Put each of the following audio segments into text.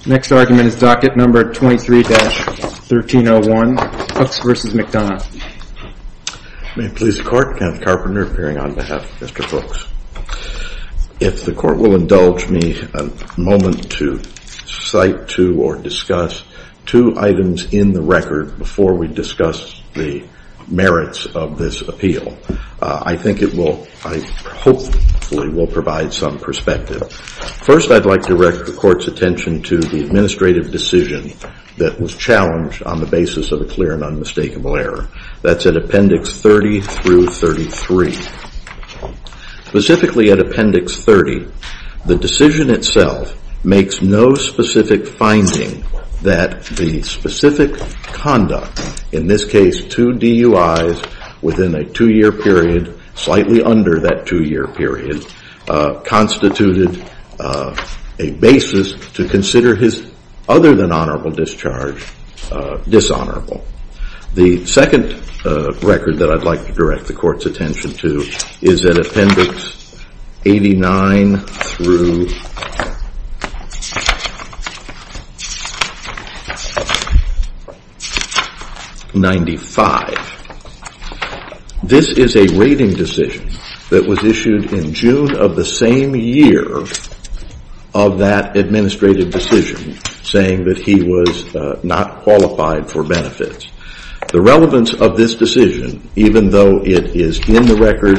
If the court will indulge me a moment to cite to or discuss two items in the record before we discuss the merits of this appeal, I think it will, I hope it will provide some perspective. First, I'd like to direct the court's attention to the administrative decision that was challenged on the basis of a clear and unmistakable error. That's in Appendix 30 through 33. Specifically at Appendix 30, the decision itself makes no specific finding that the specific conduct, in this case two DUIs within a two-year period, slightly under that two-year period, constituted a basis to consider his other than honorable discharge dishonorable. The second record that I'd like to direct the court's attention to is in Appendix 89 through 95. This is a rating decision that was issued in June of the same year of that administrative decision saying that he was not qualified for benefits. The relevance of this decision, even though it is in the record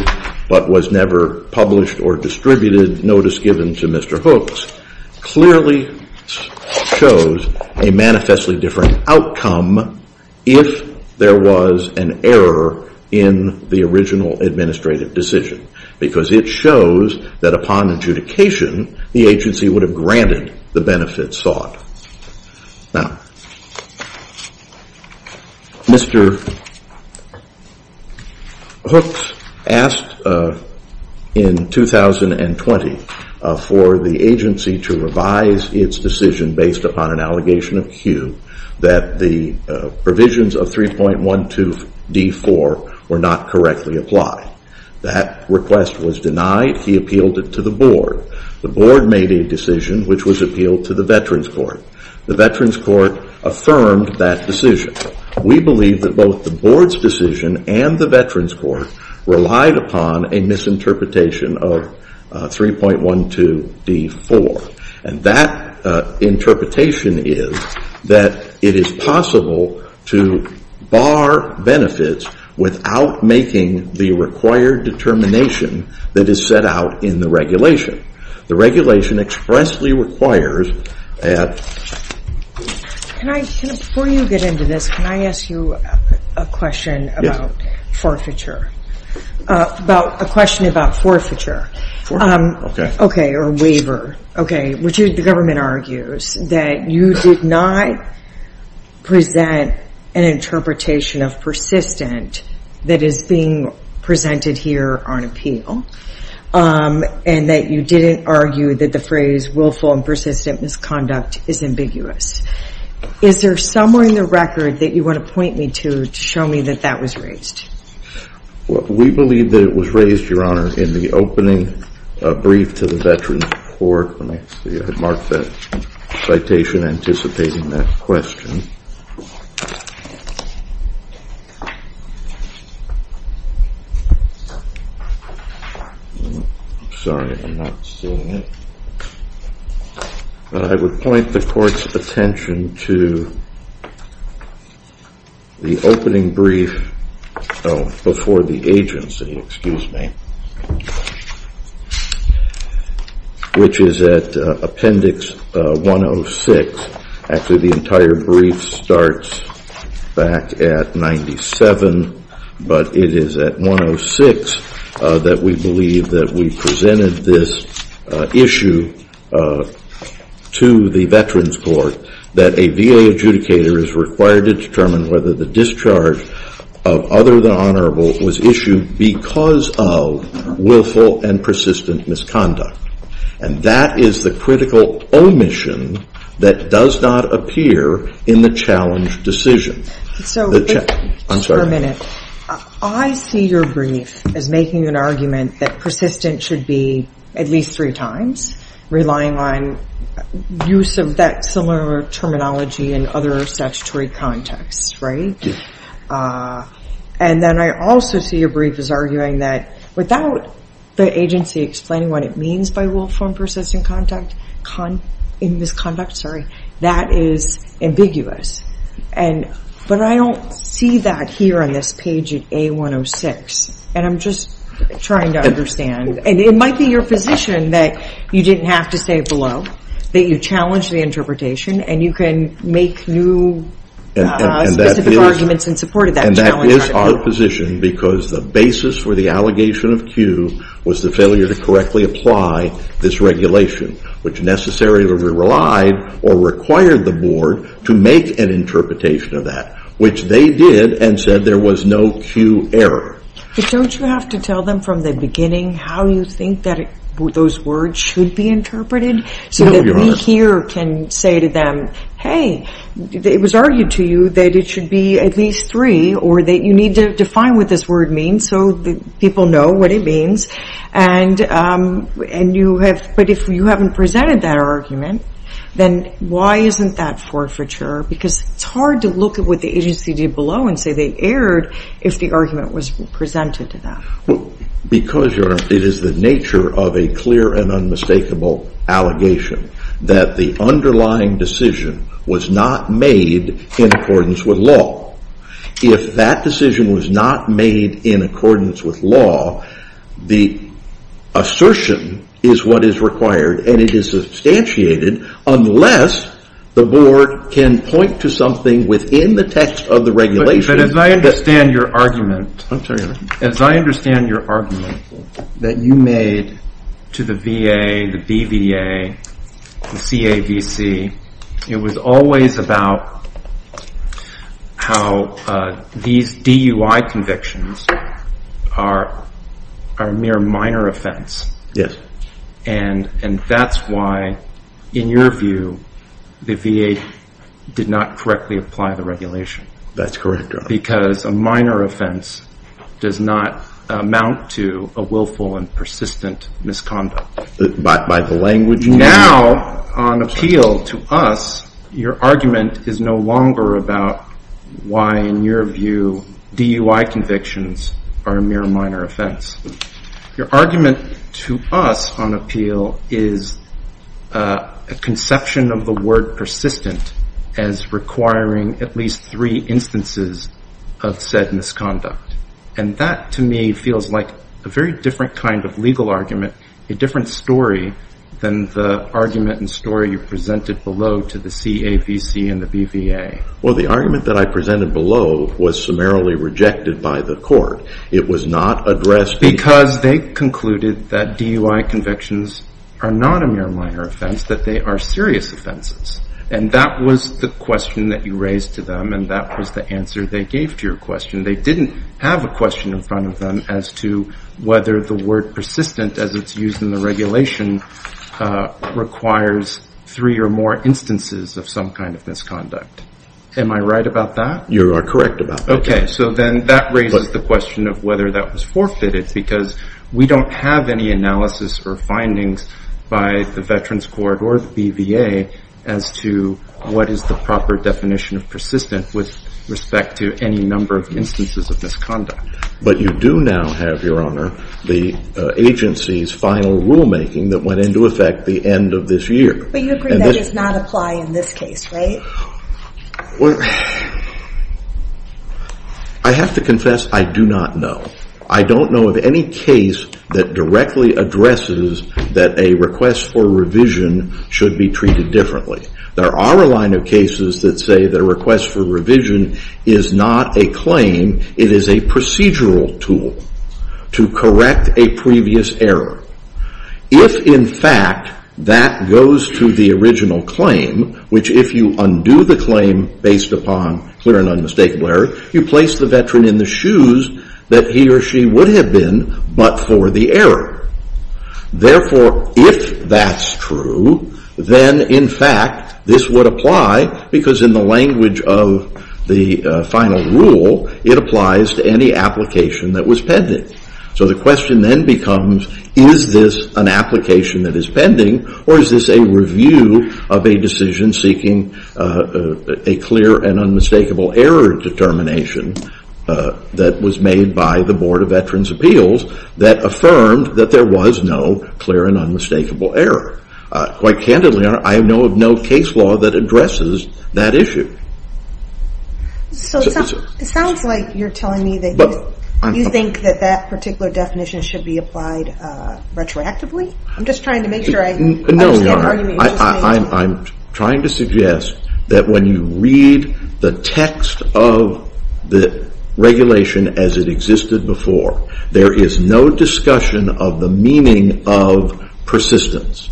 but was never published or distributed notice given to Mr. Hooks, clearly shows a manifestly different outcome if there was an error in the original administrative decision. Because it shows that upon adjudication, the agency would have granted the benefits sought. Now, Mr. Hooks asked in 2020 for the agency to revise its decision based upon an allegation of Q that the provisions of 3.12 D4 were not correctly applied. That request was denied. He appealed it to the board. The board made a decision which was appealed to the Veterans Court. The Veterans Court affirmed that decision. We believe that both the board's decision and the Veterans Court relied upon a misinterpretation of 3.12 D4. And that interpretation is that it is possible to bar benefits without making the required determination that is set out in the regulation. The regulation expressly requires that... Can I, before you get into this, can I ask you a question about forfeiture? About, a question about forfeiture. For, okay. Okay, or waiver. Okay, which the government argues that you did not present an interpretation of persistent that is being presented here on appeal. And that you didn't argue that the phrase willful and persistent misconduct is ambiguous. Is there somewhere in the record that you want to point me to, to show me that that was raised? Well, we believe that it was raised, Your Honor, in the opening brief to the Veterans Court when I had marked that citation anticipating that question. I'm sorry, I'm not seeing it. I would point the court's attention to the opening brief before the agency, excuse me, which is at appendix 106. Actually, the entire brief starts back at 97, but it is at 106 that we believe that we presented this issue to the Veterans Court, that a VA adjudicator is required to determine whether the discharge of other than honorable was issued because of willful and persistent misconduct. And that is the critical omission that does not appear in the challenge decision. So, just for a minute, I see your brief as making an argument that persistent should be at least three times, relying on use of that similar terminology in other statutory contexts, right? And then I also see your brief as arguing that without the agency explaining what it means by willful and persistent misconduct, that is ambiguous. But I don't see that here on this page at A106, and I'm just trying to understand. And it might be your position that you didn't have to say it below, that you challenged the interpretation, and you can make new specific arguments in support of that challenge article. And that is our position because the basis for the allegation of Q was the failure to correctly apply this regulation, which necessarily relied or required the board to make an interpretation of that, which they did and said there was no Q error. But don't you have to tell them from the beginning how you think that those words should be interpreted, so that we here can say to them, hey, it was argued to you that it should be at least three, or that you need to define what this word means so that people know what it means. And you have, but if you haven't presented that argument, then why isn't that forfeiture? Because it's hard to look at what the agency did below and say they erred if the argument was presented to them. Because it is the nature of a clear and unmistakable allegation that the underlying decision was not made in accordance with law. If that decision was not made in accordance with law, the assertion is what is required, and it is substantiated unless the board can point to something within the text of the regulation. But as I understand your argument that you made to the VA, the BVA, the CAVC, it was always about how these DUI convictions are a mere minor offense. Yes. And that's why, in your view, the VA did not correctly apply the regulation. That's correct, Your Honor. Because a minor offense does not amount to a willful and persistent misconduct. But by the language... Now, on appeal to us, your argument is no longer about why, in your view, DUI convictions are a mere minor offense. Your argument to us on appeal is a conception of the word persistent as requiring at least three instances of said misconduct. And that, to me, feels like a very different kind of legal argument, a different story, than the argument and story you presented below to the CAVC and the BVA. Well, the argument that I presented below was summarily rejected by the court. It was not addressed... Because they concluded that DUI convictions are not a mere minor offense, that they are serious offenses. And that was the question that you raised to them, and that was the answer they gave to your question. They didn't have a question in front of them as to whether the word persistent, as it's used in the regulation, requires three or more instances of some kind of misconduct. Am I right about that? You are correct about that, yes. Okay, so then that raises the question of whether that was forfeited, because we don't have any analysis or findings by the Veterans Court or the BVA as to what is the proper definition of persistent with respect to any number of instances of misconduct. But you do now have, your honor, the agency's final rulemaking that went into effect the end of this year. But you agree that does not apply in this case, right? Well, I have to confess I do not know. I don't know of any case that directly addresses that a request for revision should be treated differently. There are a line of cases that say that a request for revision is not a claim, it is a procedural tool to correct a previous error. If, in fact, that goes to the original claim, which if you undo the claim based upon clear and unmistakable error, you place the Veteran in the shoes that he or she would have been but for the error. Therefore, if that's true, then, in fact, this would apply, because in the language of the final rule, it applies to any application that was pending. So the question then becomes, is this an application that is pending, or is this a review of a decision seeking a clear and unmistakable error determination that was made by the Board of Veterans' Appeals that affirmed that there was no clear and unmistakable error? Quite candidly, I know of no case law that addresses that issue. So it sounds like you're telling me that you think that that particular definition should be applied retroactively. I'm just trying to make sure I understand the argument you're making. No, I'm trying to suggest that when you read the text of the regulation as it existed before, there is no discussion of the meaning of persistence,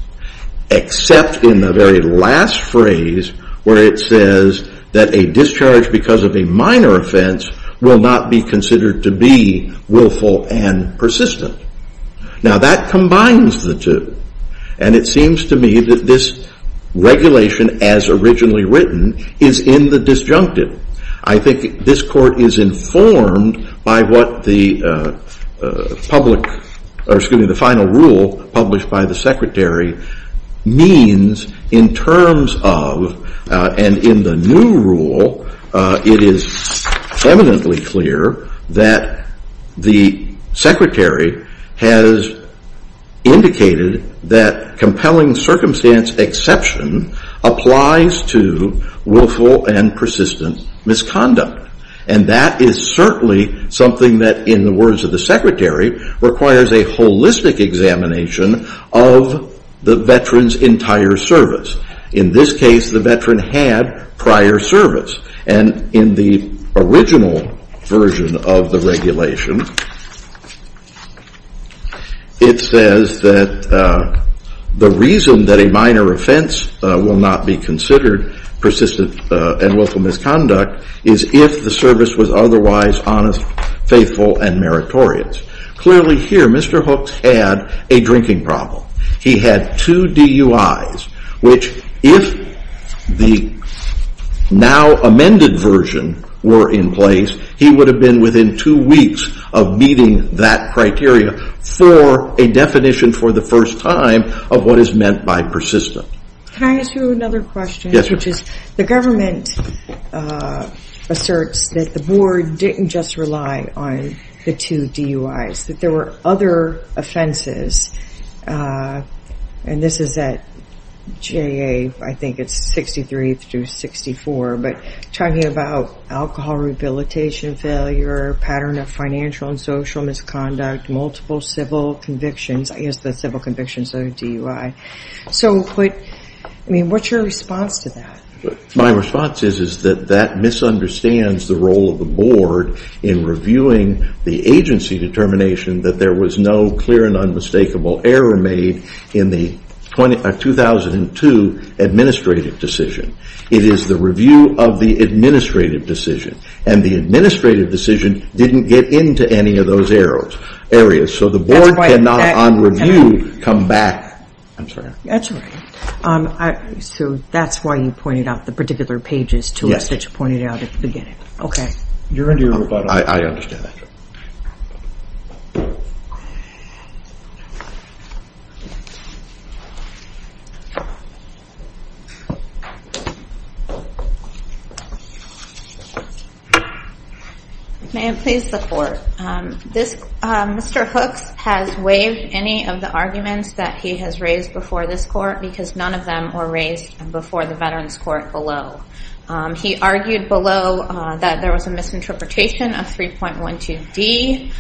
except in the very last phrase where it says that a discharge because of a minor offense will not be considered to be willful and persistent. Now that combines the two, and it seems to me that this regulation as originally written is in the disjunctive. I think this Court is informed by what the final rule published by the Secretary means in terms of, and in the new rule, it is eminently clear that the Secretary has indicated that compelling circumstance exception applies to willful and persistent misconduct. And that is certainly something that, in the words of the Secretary, requires a holistic examination of the veteran's entire service. In this case, the veteran had prior service. And in the original version of the regulation, it says that the reason that a minor offense will not be considered persistent and willful misconduct is if the service was otherwise honest, faithful, and meritorious. Clearly here, Mr. Hooks had a drinking problem. He had two DUIs, which if the now amended version were in place, he would have been within two weeks of meeting that criteria for a definition for the first time of what is meant by persistent. Can I ask you another question? Yes, ma'am. The government asserts that the Board didn't just rely on the two DUIs, that there were other offenses, and this is at JA, I think it's 63 through 64, but talking about alcohol rehabilitation failure, pattern of financial and social misconduct, multiple civil convictions, I guess the civil convictions are DUI. So what's your response to that? My response is that that misunderstands the role of the Board in reviewing the agency determination that there was no clear and unmistakable error made in the 2002 administrative decision. It is the review of the administrative decision, and the administrative decision didn't get into any of those areas. So the Board cannot, on review, come back. That's right. So that's why you pointed out the particular pages to us that you pointed out at the beginning. You're into your rebuttal. I understand that. Ma'am, please, the court. Mr. Hooks has waived any of the arguments that he has raised before this court because none of them were raised before the Veterans Court below. He argued below that there was a misinterpretation of 3.12D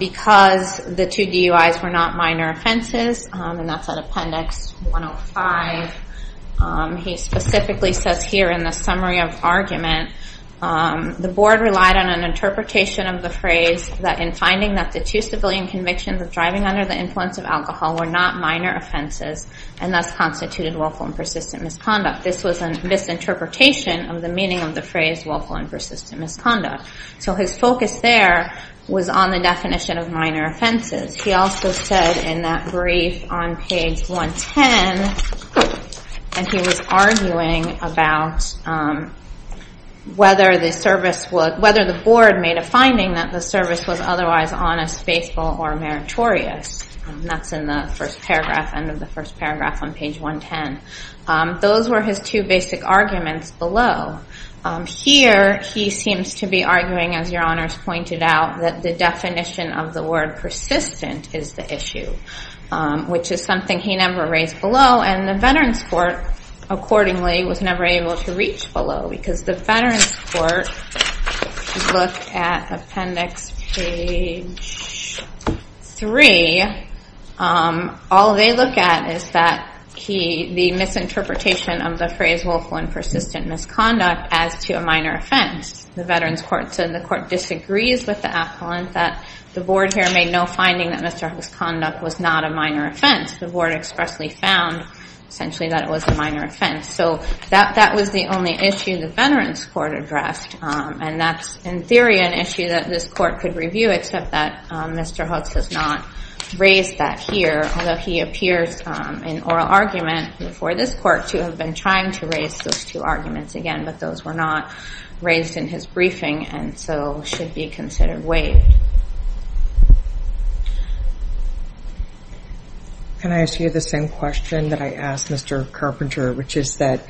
because the two DUIs were not minor offenses, and that's at Appendix 105. He specifically says here in the summary of argument, the Board relied on an interpretation of the phrase that in finding that the two civilian convictions of driving under the influence of alcohol were not minor offenses and thus constituted willful and persistent misconduct. This was a misinterpretation of the meaning of the phrase willful and persistent misconduct. So his focus there was on the definition of minor offenses. He also said in that brief on page 110, and he was arguing about whether the Board made a finding that the service was otherwise honest, faithful, or meritorious. That's in the first paragraph, end of the first paragraph on page 110. Those were his two basic arguments below. Here, he seems to be arguing, as Your Honors pointed out, that the definition of the word persistent is the issue, which is something he never raised below, and the Veterans Court, accordingly, was never able to reach below because the Veterans Court looked at Appendix page 3. All they look at is the misinterpretation of the phrase willful and persistent misconduct as to a minor offense. The Veterans Court said the Court disagrees with the appellant, that the Board here made no finding that Mr. Hook's conduct was not a minor offense. The Board expressly found, essentially, that it was a minor offense. So that was the only issue the Veterans Court addressed, and that's, in theory, an issue that this Court could review, except that Mr. Hooks has not raised that here, although he appears in oral argument before this Court to have been trying to raise those two arguments again, but those were not raised in his briefing and so should be considered waived. Can I ask you the same question that I asked Mr. Carpenter, which is that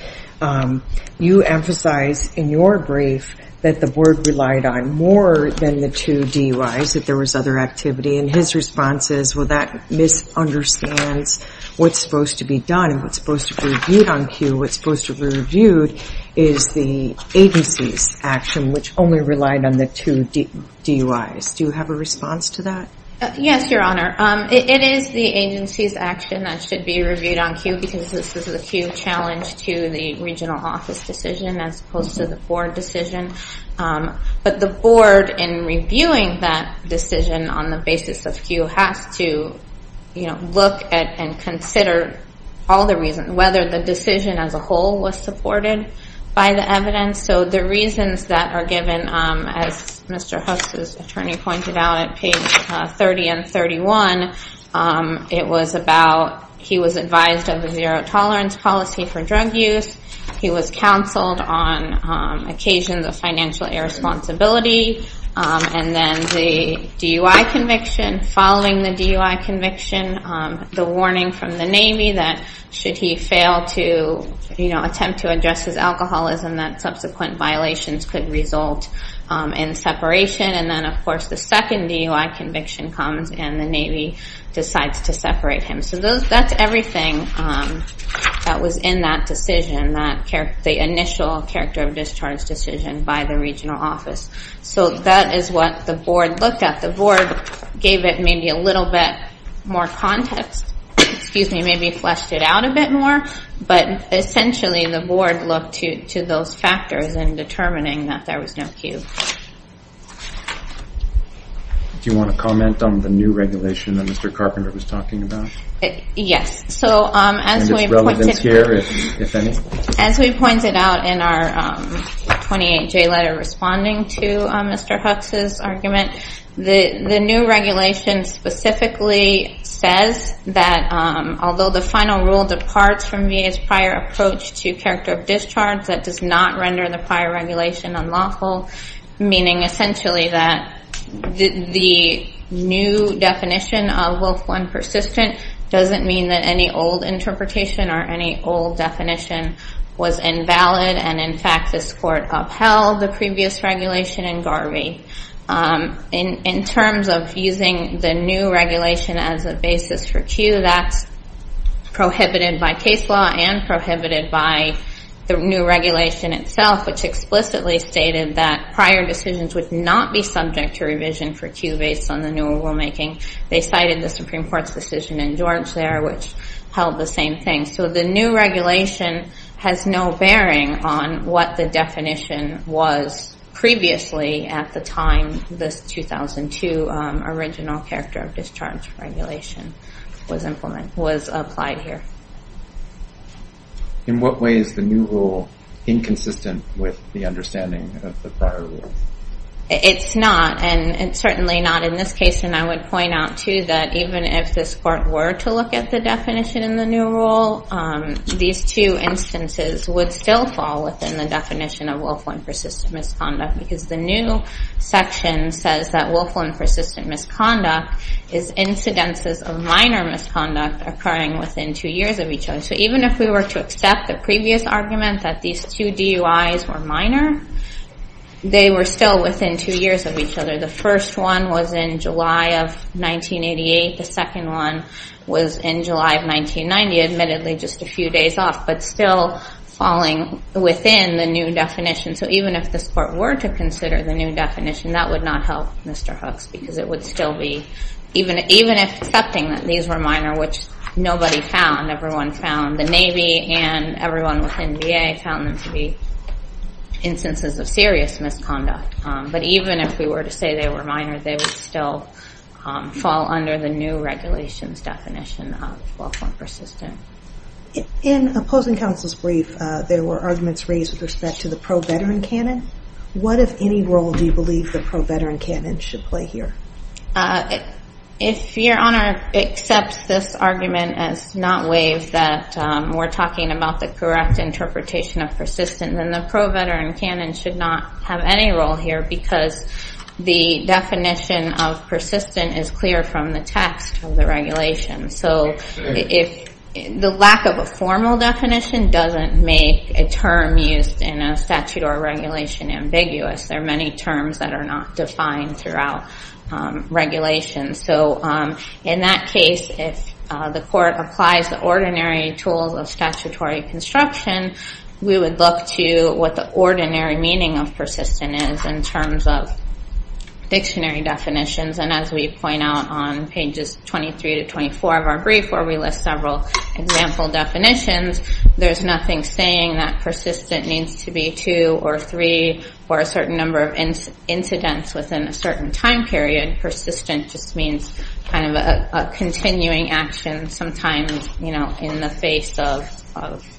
you emphasize in your brief that the Board relied on more than the two DUIs, that there was other activity, and his response is well, that misunderstands what's supposed to be done and what's supposed to be reviewed on cue. What's supposed to be reviewed is the agency's action, which only relied on the two DUIs. Do you have a response to that? Yes, Your Honor. It is the agency's action that should be reviewed on cue because this is a cue challenge to the regional office decision as opposed to the Board decision. But the Board, in reviewing that decision on the basis of cue, has to look at and consider all the reasons, whether the decision as a whole was supported by the evidence. So the reasons that are given as Mr. Hooks' attorney pointed out at page 30 and 31, it was about, he was advised of a zero-tolerance policy for drug use, he was counseled on occasions of financial irresponsibility, and then the DUI conviction, following the DUI conviction, the warning from the Navy that should he fail to attempt to address his alcoholism, that subsequent violations could result in separation, and then of course the second DUI conviction comes and the Navy decides to separate him. So that's everything that was in that initial discharge decision by the regional office. So that is what the Board looked at. The Board gave it maybe a little bit more context, maybe fleshed it out a bit more, but essentially the Board looked to those factors in determining that there was no cue. Do you want to comment on the new regulation that Mr. Carpenter was talking about? Yes. So as we pointed out in our 28J letter responding to Mr. Hooks' argument, the new regulation specifically says that although the final rule departs from VA's prior approach to character of discharge, that does not render the prior regulation unlawful, meaning essentially that the new definition of willful and persistent doesn't mean that any old interpretation or any old definition was invalid, and in fact this Court upheld the previous regulation in Garvey. In terms of using the new regulation as a basis for cue, that's prohibited by case law and prohibited by the new regulation itself, which explicitly stated that prior decisions would not be subject to revision for cue based on the newer rulemaking. They cited the Supreme Court's decision in George there, which held the same thing. So the new regulation has no bearing on what the definition was previously at the time this 2002 original character of discharge regulation was applied here. In what way is the new rule inconsistent with the understanding of the prior rule? It's not, and certainly not in this case, and I would point out too that even if this Court were to look at the definition in the new rule, these two instances would still fall within the definition of willful and persistent misconduct because the new section says that willful and persistent misconduct is incidences of minor misconduct occurring within two years of each other. So even if we were to accept the previous argument that these two DUIs were minor, they were still within two years of each other. The first one was in July of 1988. The second one was in July of 1990, admittedly just a few days off, but still falling within the new definition. So even if this Court were to consider the new definition, that would not help Mr. Hooks because it would still be, even if accepting that these were minor, which nobody found, everyone found the Navy and everyone within VA found them to be instances of serious misconduct. But even if we were to say they were minor, they would still fall under the new regulations definition of willful and persistent. In opposing counsel's brief, there were arguments raised with respect to the pro-veteran canon. What, if any, role do you believe the pro-veteran canon should play here? If Your Honor accepts this argument as not waived, that we're talking about the correct interpretation of persistent, then the pro-veteran canon should not have any role here because the definition of persistent is clear from the text of the regulation. So if the lack of a formal definition doesn't make a term used in a statute or regulation ambiguous. There are many terms that are not defined throughout regulation. So in that case, if the Court applies the ordinary tools of statutory construction, we would look to what the ordinary meaning of persistent is in terms of dictionary definitions. And as we point out on pages 23 to 24 of our brief, where we list several example definitions, there's nothing saying that persistent needs to be two or three or a certain number of incidents within a certain time period. Persistent just means kind of a continuing action, sometimes in the face of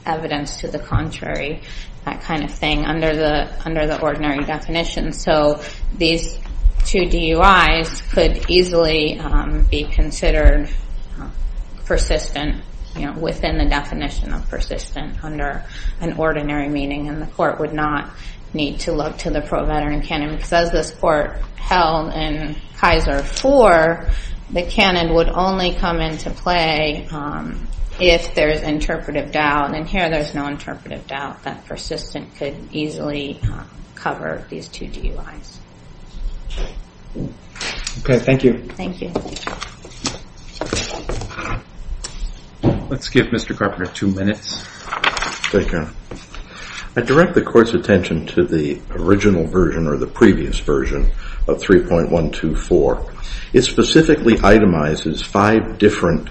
evidence to the contrary. That kind of thing under the ordinary definition. So these two DUIs could easily be considered persistent within the definition of persistent under an ordinary meaning. And the Court would not need to look to the pro-veteran canon because as this Court held in Kaiser IV, the canon would only come into play if there's interpretive doubt. And here there's no interpretive doubt that persistent could easily cover these two DUIs. Okay, thank you. Let's give Mr. Carpenter two minutes. I direct the Court's attention to the original version or the previous version of 3.124. It specifically itemizes five different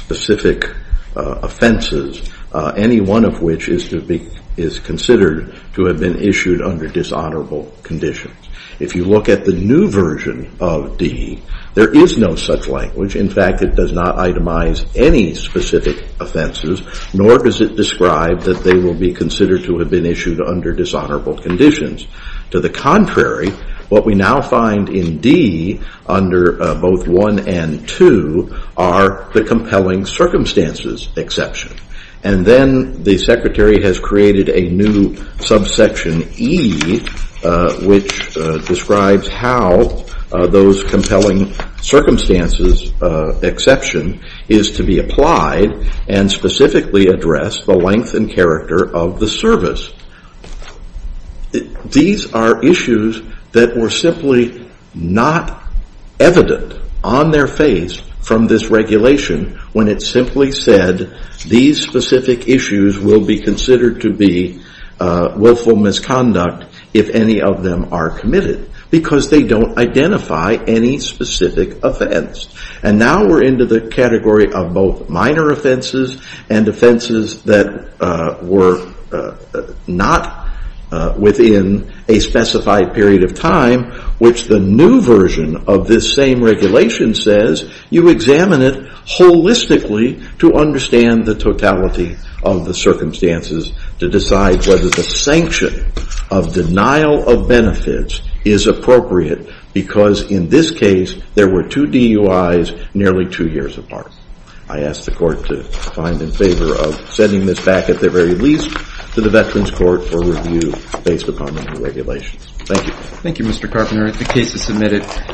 specific offenses, any one of which is considered to have been issued under dishonorable conditions. If you look at the new version of D, there is no such language. In fact, it does not itemize any specific offenses, nor does it describe that they will be considered to have been issued under dishonorable conditions. To the contrary, what we now find in D under both 1 and 2 are the compelling circumstances exception. And then the Secretary has created a new subsection E, which describes how those compelling circumstances exception is to be applied and specifically address the length and character of the service. These are issues that were simply not evident on their face from this regulation when it simply said these specific issues will be considered to be willful misconduct if any of them are committed because they don't identify any specific offense. And now we're into the category of both minor offenses and offenses that were not within a specified period of time, which the new version of this same regulation says you examine it holistically to understand the totality of the circumstances to decide whether the sanction of denial of benefits is appropriate because in this case, there were two DUIs nearly two years apart. I ask the Court to find in favor of sending this back at the very least to the Veterans Court for review based upon the new regulations. Thank you. Thank you, Mr. Carpenter. If the case is submitted.